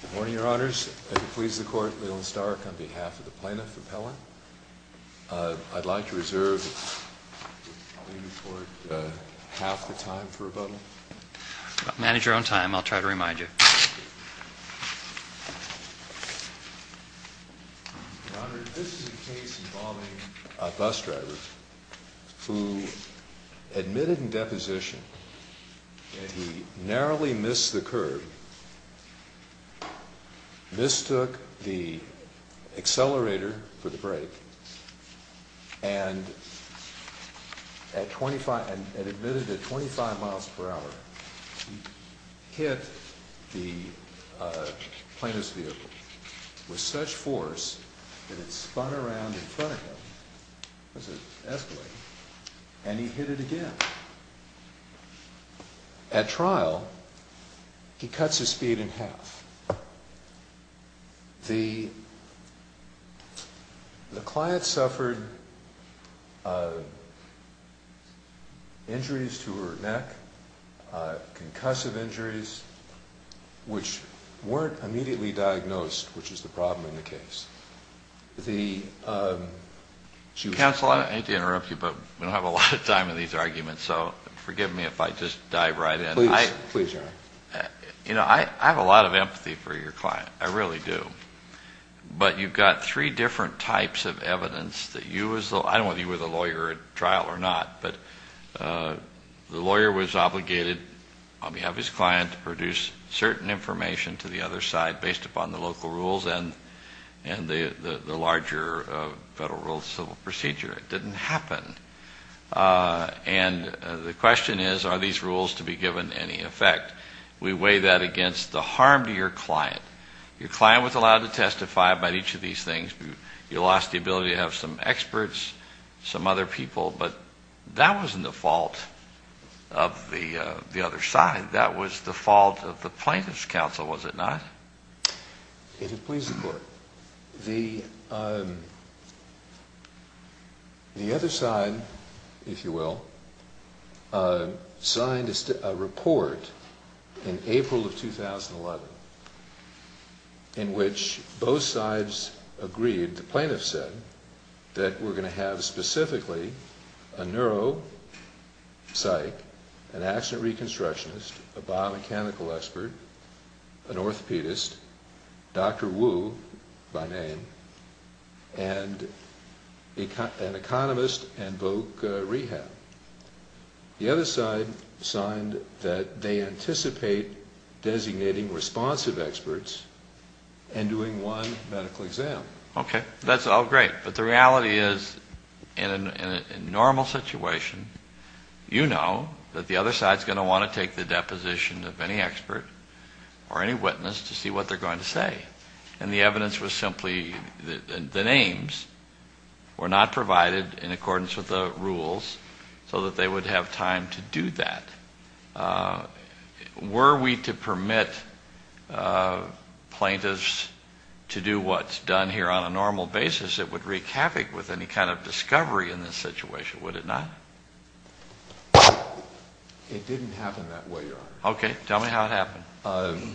Good morning, Your Honors. I do please the court, Leland Stark, on behalf of the plaintiff, Appellant. I'd like to reserve half the time for rebuttal. Manage your own time. I'll try to remind you. Your Honor, this is a case involving a bus driver who admitted in deposition that he narrowly missed the curb, mistook the accelerator for the brake, and admitted at 25 miles per hour, he hit the plaintiff's vehicle with such force that it spun around in front of him, as it escalated, and he hit it again. At trial, he cuts his speed in half. The client suffered injuries to her neck, concussive injuries, which weren't immediately diagnosed, which is the problem in the case. Counsel, I hate to interrupt you, but we don't have a lot of time in these arguments, so forgive me if I just dive right in. Please, Your Honor. You know, I have a lot of empathy for your client. I really do. But you've got three different types of evidence that you, I don't know whether you were the lawyer at trial or not, but the lawyer was obligated on behalf of his client to produce certain information to the other side based upon the local rules and the larger Federal Rules of Civil Procedure. It didn't happen. And the question is, are these rules to be given any effect? We weigh that against the harm to your client. Your client was allowed to testify about each of these things. You lost the ability to have some experts, some other people, but that wasn't the fault of the other side. That was the fault of the plaintiff's counsel, was it not? If you'll please, Your Court, the other side, if you will, signed a report in April of 2011 in which both sides agreed, the plaintiffs said, that we're going to have specifically a neuropsych, an accident reconstructionist, a biomechanical expert, an orthopedist, Dr. Wu by name, and an economist and voc rehab. The other side signed that they anticipate designating responsive experts and doing one medical exam. Okay. That's all great. But the reality is, in a normal situation, you know that the other side is going to want to take the deposition of any expert or any witness to see what they're going to say. And the evidence was simply the names were not provided in accordance with the rules so that they would have time to do that. Were we to permit plaintiffs to do what's done here on a normal basis, it would wreak havoc with any kind of discovery in this situation, would it not? It didn't happen that way, Your Honor. Okay. Tell me how it happened.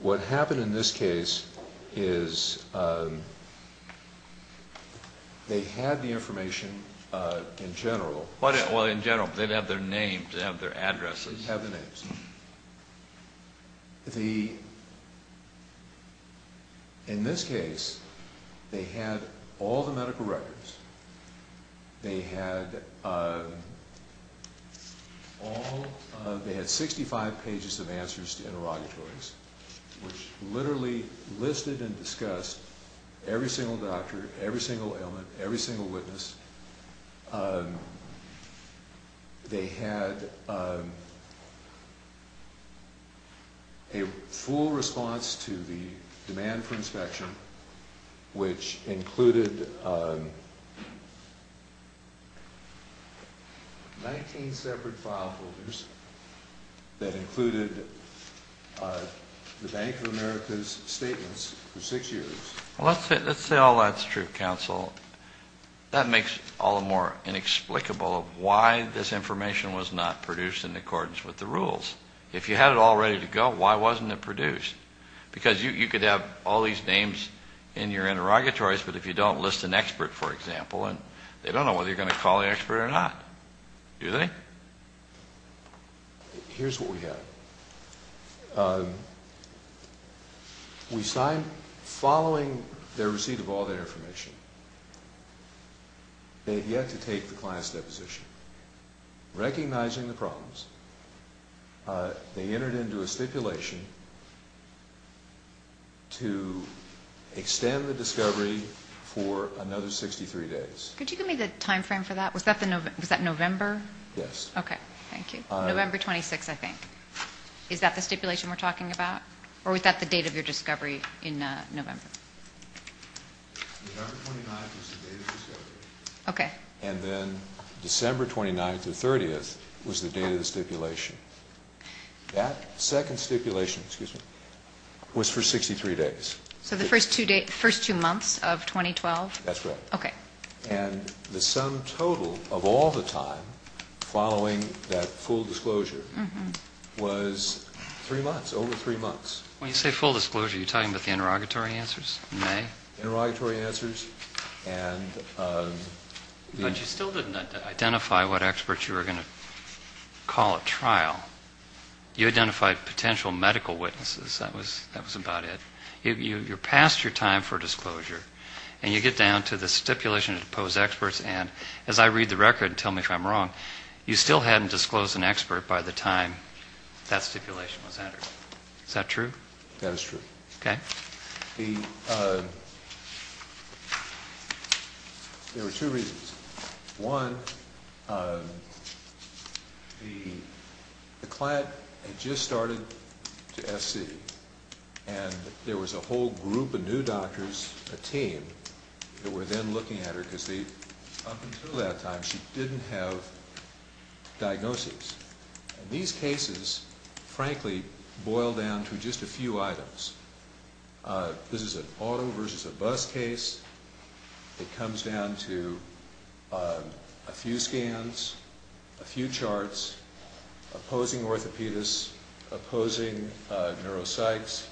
What happened in this case is they had the information in general. Well, in general, but they didn't have their names, they didn't have their addresses. They didn't have their names. In this case, they had all the medical records. They had 65 pages of answers to interrogatories, which literally listed and discussed every single doctor, every single ailment, every single witness. They had a full response to the demand for inspection, which included 19 separate file folders that included the Bank of America's statements for six years. Well, let's say all that's true, Counsel. That makes all the more inexplicable why this information was not produced in accordance with the rules. If you had it all ready to go, why wasn't it produced? Because you could have all these names in your interrogatories, but if you don't list an expert, for example, they don't know whether you're going to call the expert or not, do they? Here's what we had. We signed following their receipt of all their information. They had yet to take the client's deposition. Recognizing the problems, they entered into a stipulation to extend the discovery for another 63 days. Could you give me the time frame for that? Was that November? Yes. Okay, thank you. November 26th, I think. Is that the stipulation we're talking about? Or was that the date of your discovery in November? November 29th was the date of discovery. And then December 29th or 30th was the date of the stipulation. That second stipulation was for 63 days. So the first two months of 2012? That's right. Okay. And the sum total of all the time following that full disclosure was three months, over three months. When you say full disclosure, are you talking about the interrogatory answers in May? Interrogatory answers. But you still didn't identify what experts you were going to call at trial. You identified potential medical witnesses. That was about it. You passed your time for disclosure, and you get down to the stipulation to depose experts, and as I read the record, tell me if I'm wrong, you still hadn't disclosed an expert by the time that stipulation was entered. Is that true? That is true. Okay. There were two reasons. One, the client had just started to SC, and there was a whole group of new doctors, a team, that were then looking at her because up until that time she didn't have diagnoses. These cases, frankly, boil down to just a few items. This is an auto versus a bus case. It comes down to a few scans, a few charts, opposing orthopedists, opposing neuropsychs,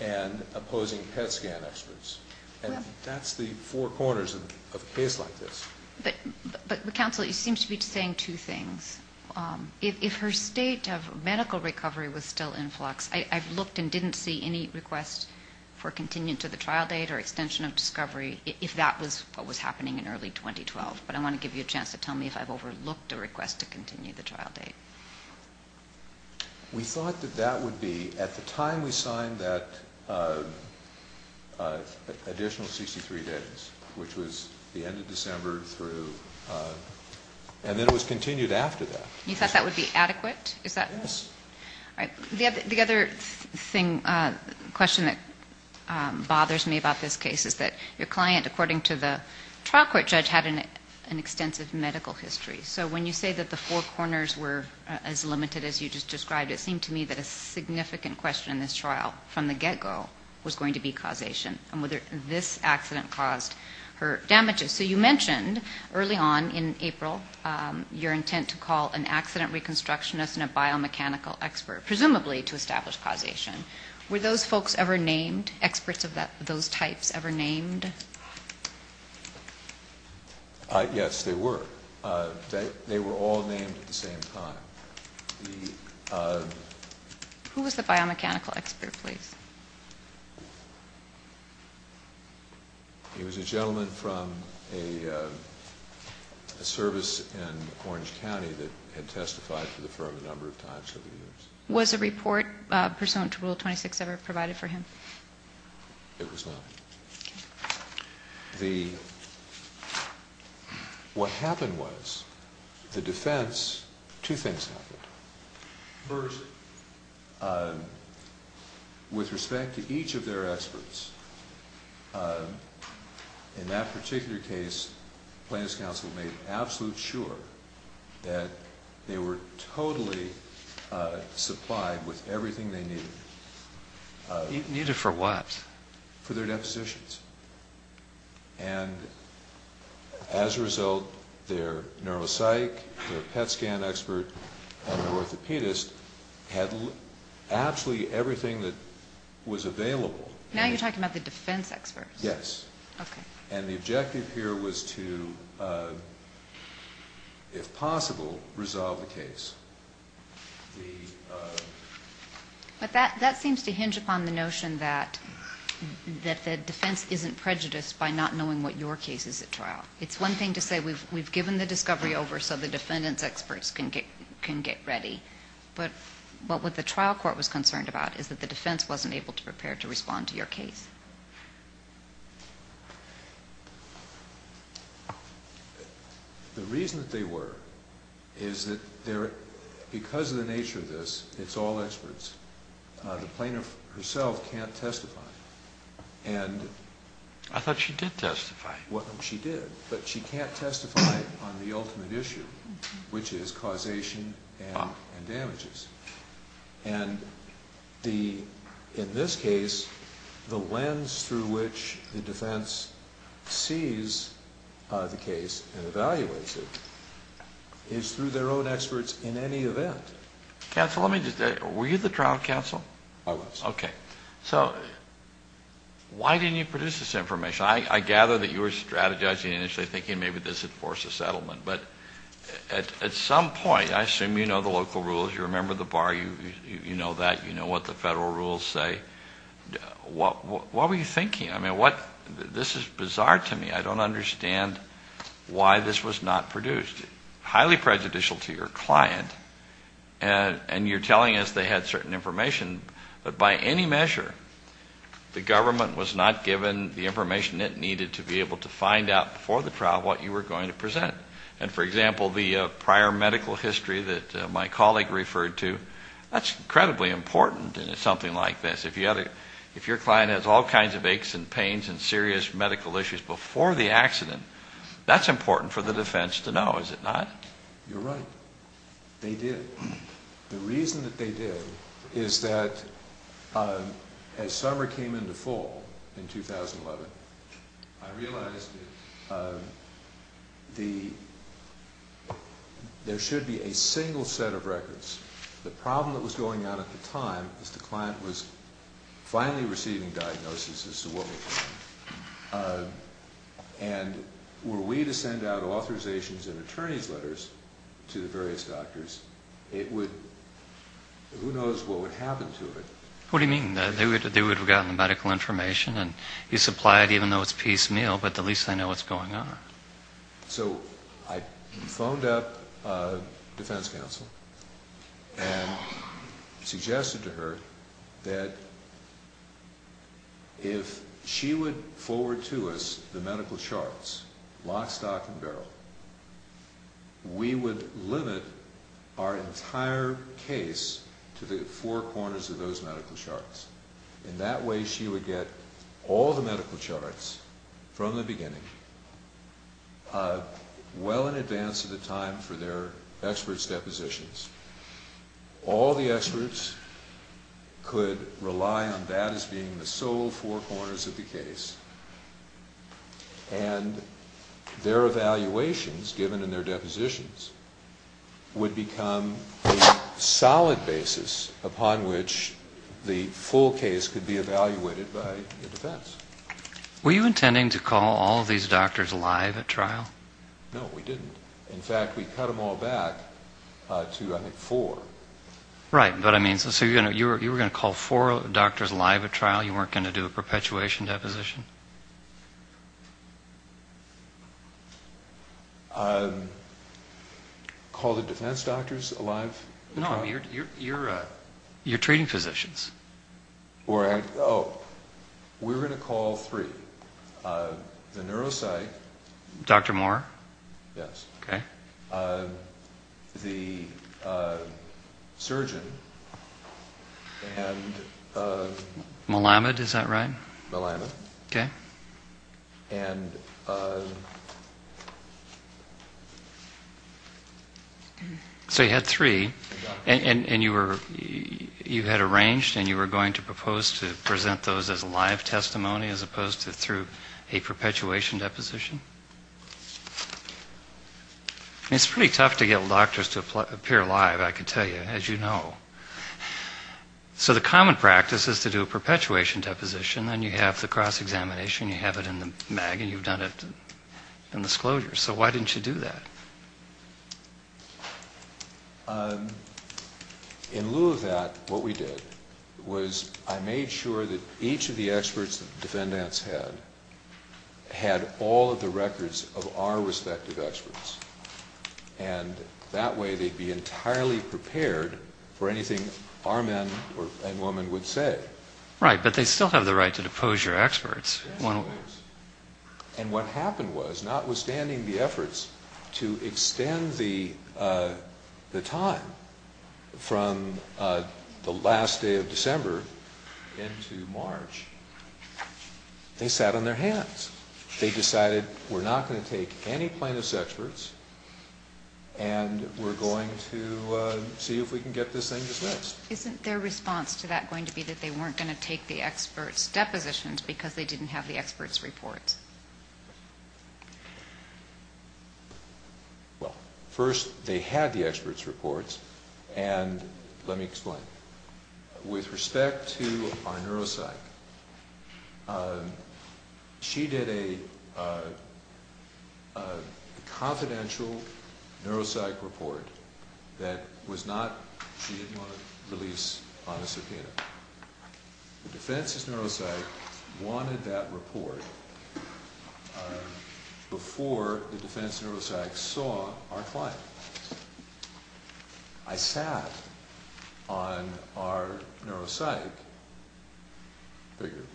and opposing PET scan experts, and that's the four corners of a case like this. But, counsel, you seem to be saying two things. If her state of medical recovery was still in flux, I've looked and didn't see any requests for continuing to the trial date or extension of discovery, if that was what was happening in early 2012, but I want to give you a chance to tell me if I've overlooked a request to continue the trial date. We thought that that would be at the time we signed that additional 63 days, which was the end of December through, and then it was continued after that. You thought that would be adequate? Yes. All right. The other question that bothers me about this case is that your client, according to the trial court judge, had an extensive medical history. So when you say that the four corners were as limited as you just described, it seemed to me that a significant question in this trial from the get-go was going to be causation and whether this accident caused her damages. So you mentioned early on in April your intent to call an accident reconstructionist and a biomechanical expert, presumably to establish causation. Were those folks ever named, experts of those types ever named? Yes, they were. They were all named at the same time. Who was the biomechanical expert, please? He was a gentleman from a service in Orange County that had testified for the firm a number of times over the years. Was a report pursuant to Rule 26 ever provided for him? It was not. Okay. What happened was the defense, two things happened. First, with respect to each of their experts, in that particular case Plaintiff's Counsel made absolute sure that they were totally supplied with everything they needed. Needed for what? For their depositions. And as a result, their neuropsych, their PET scan expert, and their orthopedist had absolutely everything that was available. Now you're talking about the defense experts. Yes. Okay. And the objective here was to, if possible, resolve the case. But that seems to hinge upon the notion that the defense isn't prejudiced by not knowing what your case is at trial. It's one thing to say we've given the discovery over so the defendant's experts can get ready. But what the trial court was concerned about is that the defense wasn't able to prepare to respond to your case. The reason that they were is that because of the nature of this, it's all experts. The plaintiff herself can't testify. I thought she did testify. She did, but she can't testify on the ultimate issue, which is causation and damages. And in this case, the lens through which the defense sees the case and evaluates it is through their own experts in any event. Counsel, were you the trial counsel? I was. Okay. So why didn't you produce this information? I gather that you were strategizing initially thinking maybe this would force a settlement. But at some point, I assume you know the local rules. You remember the bar. You know that. You know what the federal rules say. What were you thinking? I mean, this is bizarre to me. I don't understand why this was not produced. Highly prejudicial to your client, and you're telling us they had certain information. But by any measure, the government was not given the information it needed to be able to find out before the trial what you were going to present. And, for example, the prior medical history that my colleague referred to, that's incredibly important in something like this. If your client has all kinds of aches and pains and serious medical issues before the accident, that's important for the defense to know, is it not? You're right. They did. The reason that they did is that as summer came into fall in 2011, I realized that there should be a single set of records. The problem that was going on at the time was the client was finally receiving diagnosis, as to what was going on. And were we to send out authorizations and attorney's letters to the various doctors, it would, who knows what would happen to it. What do you mean? They would have gotten the medical information, and you supply it even though it's piecemeal, but at least they know what's going on. So I phoned up defense counsel and suggested to her that if she would forward to us the medical charts, lock, stock, and barrel, we would limit our entire case to the four corners of those medical charts. And that way she would get all the medical charts from the beginning, well in advance of the time for their experts' depositions. All the experts could rely on that as being the sole four corners of the case. And their evaluations, given in their depositions, would become a solid basis upon which the full case could be evaluated by the defense. Were you intending to call all of these doctors live at trial? No, we didn't. In fact, we cut them all back to, I think, four. Right, but I mean, so you were going to call four doctors live at trial? You weren't going to do a perpetuation deposition? Call the defense doctors alive at trial? No, your treating physicians. Oh, we were going to call three. The neuropsych. Dr. Moore. Yes. Okay. The surgeon. Melamed, is that right? Melamed. Okay. And... So you had three, and you were, you had arranged and you were going to propose to present those as live testimony as opposed to through a perpetuation deposition? It's pretty tough to get doctors to appear live, I can tell you, as you know. So the common practice is to do a perpetuation deposition, then you have the cross-examination, you have it in the MAG, and you've done it in the disclosure. So why didn't you do that? In lieu of that, what we did was I made sure that each of the experts the defendants had had all of the records of our respective experts, and that way they'd be entirely prepared for anything our men and women would say. Right, but they still have the right to depose your experts. Yes, they do. And what happened was, notwithstanding the efforts to extend the time from the last day of December into March, they sat on their hands. They decided we're not going to take any plaintiff's experts, and we're going to see if we can get this thing dismissed. Isn't their response to that going to be that they weren't going to take the experts' depositions because they didn't have the experts' reports? Well, first they had the experts' reports, and let me explain. With respect to our neuropsych, she did a confidential neuropsych report that was not she didn't want to release on a subpoena. The defense's neuropsych wanted that report before the defense neuropsych saw our client. I sat on our neuropsych, figuratively,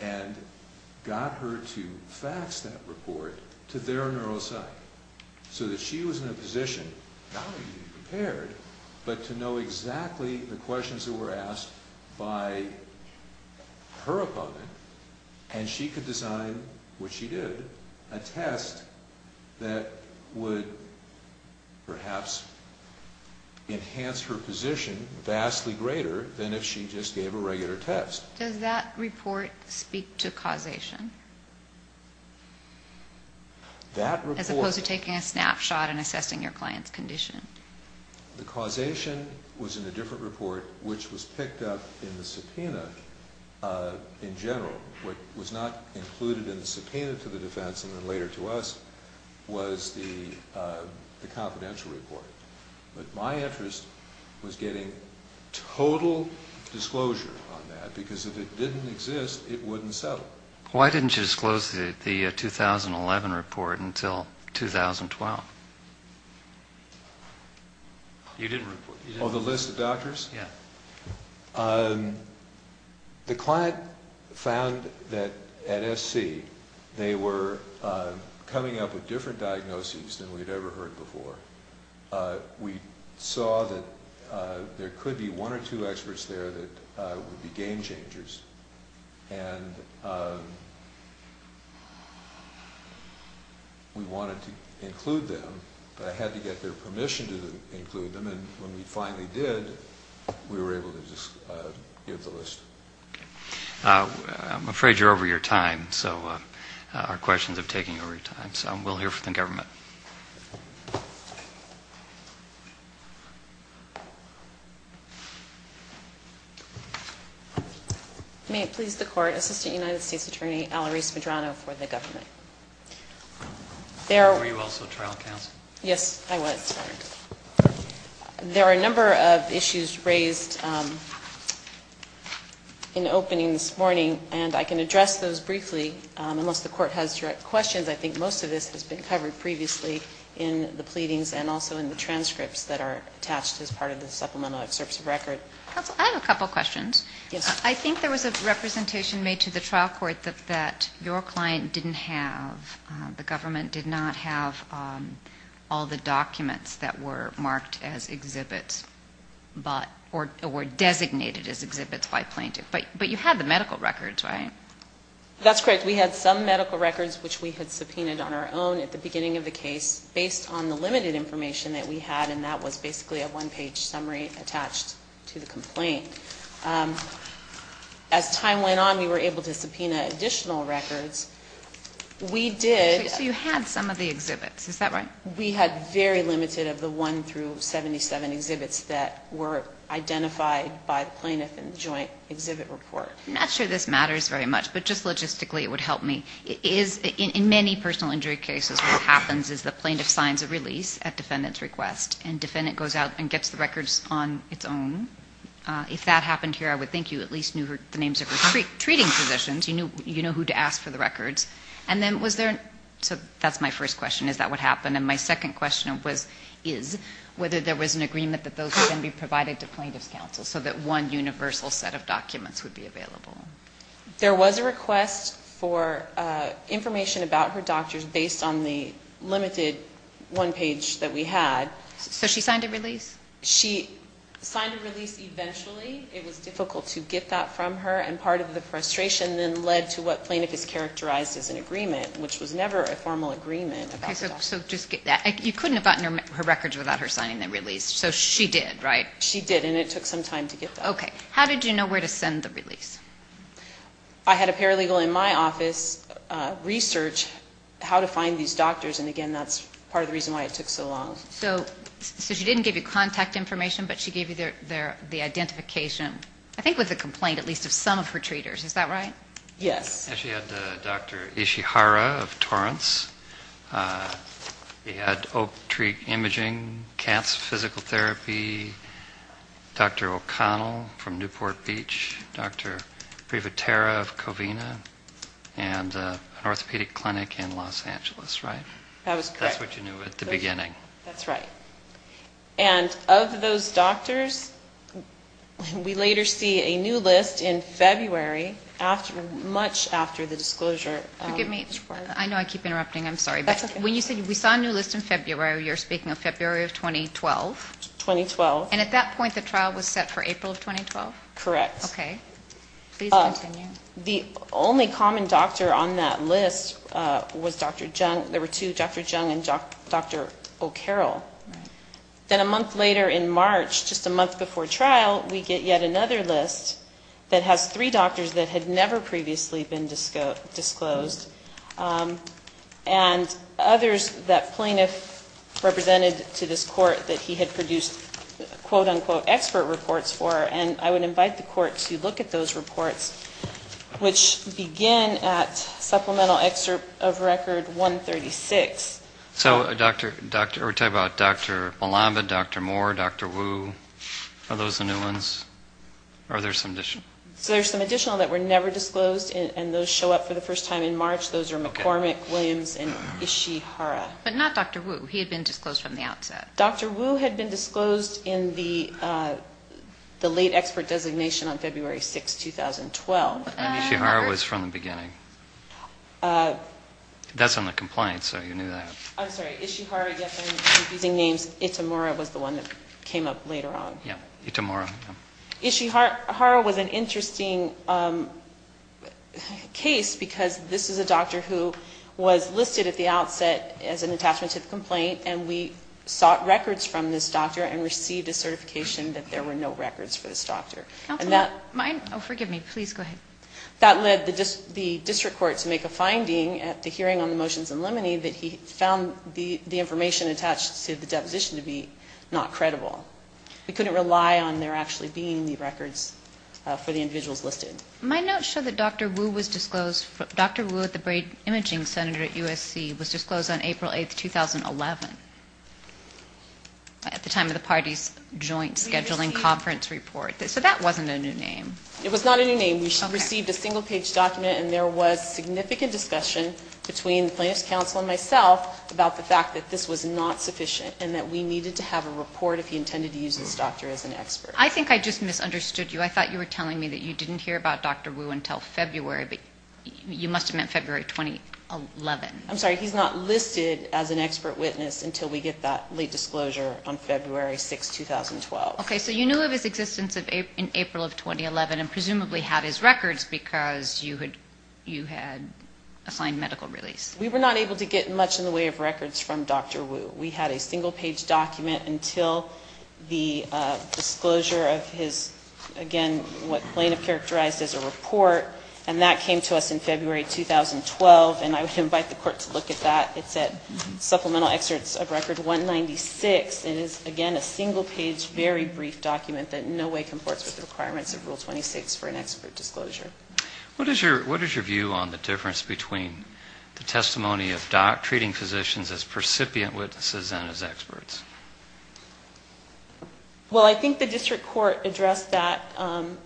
and got her to fax that report to their neuropsych so that she was in a position, not only to be prepared, but to know exactly the questions that were asked by her opponent, and she could design, which she did, a test that would perhaps enhance her position vastly greater than if she just gave a regular test. Does that report speak to causation? That report... As opposed to taking a snapshot and assessing your client's condition. The causation was in a different report, which was picked up in the subpoena in general. What was not included in the subpoena to the defense and then later to us was the confidential report. But my interest was getting total disclosure on that, because if it didn't exist, it wouldn't settle. Why didn't you disclose the 2011 report until 2012? You didn't report. On the list of doctors? Yeah. The client found that at SC they were coming up with different diagnoses than we'd ever heard before. We saw that there could be one or two experts there that would be game changers, and we wanted to include them, but I had to get their permission to include them, and when we finally did, we were able to give the list. Okay. I'm afraid you're over your time, so our questions are taking over your time, We'll hear from the government. May it please the Court, Assistant United States Attorney Alarise Medrano for the government. Were you also trial counsel? Yes, I was. There are a number of issues raised in the opening this morning, and I can address those briefly. Unless the Court has direct questions, I think most of this has been covered previously in the pleadings and also in the transcripts that are attached as part of the supplemental excerpts of record. Counsel, I have a couple questions. Yes. I think there was a representation made to the trial court that your client didn't have, the government did not have all the documents that were marked as exhibits, or designated as exhibits by plaintiff, but you had the medical records, right? That's correct. We had some medical records, which we had subpoenaed on our own at the beginning of the case, based on the limited information that we had, and that was basically a one-page summary attached to the complaint. As time went on, we were able to subpoena additional records. So you had some of the exhibits, is that right? We had very limited of the 1 through 77 exhibits that were identified by the plaintiff in the joint exhibit report. I'm not sure this matters very much, but just logistically it would help me. In many personal injury cases, what happens is the plaintiff signs a release at defendant's request, and defendant goes out and gets the records on its own. If that happened here, I would think you at least knew the names of the treating physicians. You know who to ask for the records. So that's my first question, is that what happened. And my second question is whether there was an agreement that those would then be provided to plaintiff's counsel so that one universal set of documents would be available. There was a request for information about her doctors based on the limited one page that we had. So she signed a release? She signed a release eventually. It was difficult to get that from her, and part of the frustration then led to what plaintiff has characterized as an agreement, which was never a formal agreement. Okay, so just get that. You couldn't have gotten her records without her signing the release, so she did, right? She did, and it took some time to get that. Okay. How did you know where to send the release? I had a paralegal in my office research how to find these doctors, and again, that's part of the reason why it took so long. So she didn't give you contact information, but she gave you the identification, I think with a complaint at least, of some of her treaters, is that right? Yes. She had Dr. Ishihara of Torrance. She had Oak Tree Imaging, Katz Physical Therapy, Dr. O'Connell from Newport Beach, Dr. Privatera of Covina, and an orthopedic clinic in Los Angeles, right? That was correct. That's what you knew at the beginning. That's right. And of those doctors, we later see a new list in February, much after the disclosure. Forgive me. I know I keep interrupting. I'm sorry. That's okay. When you say we saw a new list in February, you're speaking of February of 2012? 2012. And at that point, the trial was set for April of 2012? Correct. Okay. Please continue. The only common doctor on that list was Dr. Jung. There were two, Dr. Jung and Dr. O'Carroll. Right. Then a month later in March, just a month before trial, we get yet another list that has three doctors that had never previously been disclosed, and others that plaintiff represented to this court that he had produced quote-unquote expert reports for, and I would invite the court to look at those reports, which begin at Supplemental Excerpt of Record 136. So we're talking about Dr. Malamba, Dr. Moore, Dr. Wu. Are those the new ones? Or are there some additional? So there's some additional that were never disclosed, and those show up for the first time in March. Those are McCormick, Williams, and Ishihara. But not Dr. Wu. He had been disclosed from the outset. Dr. Wu had been disclosed in the late expert designation on February 6, 2012. And Ishihara was from the beginning. That's on the complaint, so you knew that. I'm sorry. Ishihara, again, confusing names. Itomura was the one that came up later on. Yeah. Itomura. Ishihara was an interesting case because this is a doctor who was listed at the outset as an attachment to the complaint, and we sought records from this doctor and received a certification that there were no records for this doctor. And that led the district court to make a finding at the hearing on the motions in limine that he found the information attached to the deposition to be not credible. We couldn't rely on there actually being the records for the individuals listed. My notes show that Dr. Wu was disclosed. Dr. Wu, the brain imaging senator at USC, was disclosed on April 8, 2011 at the time of the party's joint scheduling conference report. So that wasn't a new name. It was not a new name. We received a single-page document, and there was significant discussion between plaintiff's counsel and myself about the fact that this was not sufficient and that we needed to have a report if he intended to use this doctor as an expert. I think I just misunderstood you. I thought you were telling me that you didn't hear about Dr. Wu until February. You must have meant February 2011. I'm sorry. He's not listed as an expert witness until we get that late disclosure on February 6, 2012. Okay. So you knew of his existence in April of 2011 and presumably had his records because you had assigned medical release. We were not able to get much in the way of records from Dr. Wu. We had a single-page document until the disclosure of his, again, what plaintiff characterized as a report, and that came to us in February 2012, and I would invite the Court to look at that. It's at Supplemental Excerpts of Record 196. It is, again, a single-page, very brief document that in no way comports with the requirements of Rule 26 for an expert disclosure. What is your view on the difference between the testimony of treating physicians as recipient witnesses and as experts? Well, I think the district court addressed that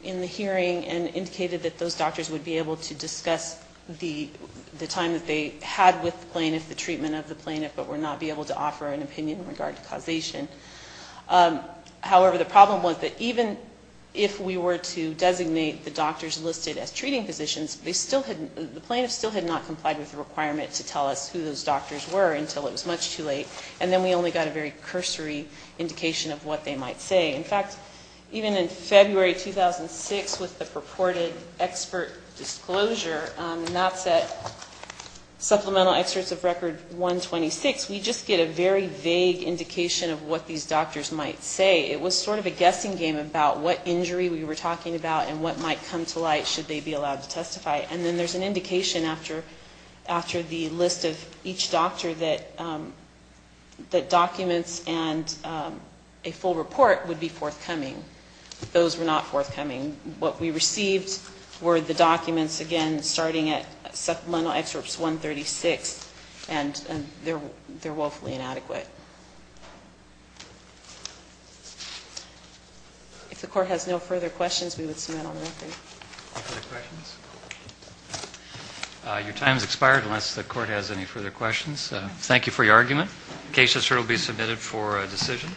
in the hearing and indicated that those doctors would be able to discuss the time that they had with the plaintiff, the treatment of the plaintiff, but would not be able to offer an opinion in regard to causation. However, the problem was that even if we were to designate the doctors listed as treating physicians, the plaintiff still had not complied with the requirement to tell us who those doctors were until it was much too late, and then we only got a very cursory indication of what they might say. In fact, even in February 2006 with the purported expert disclosure, and that's at Supplemental Excerpts of Record 126, we just get a very vague indication of what these doctors might say. It was sort of a guessing game about what injury we were talking about and what might come to light should they be allowed to testify. And then there's an indication after the list of each doctor that documents and a full report would be forthcoming. Those were not forthcoming. What we received were the documents, again, starting at Supplemental Excerpts 136, and they're woefully inadequate. If the Court has no further questions, we would submit on the record. No further questions? Your time has expired unless the Court has any further questions. Thank you for your argument. Cases here will be submitted for a decision.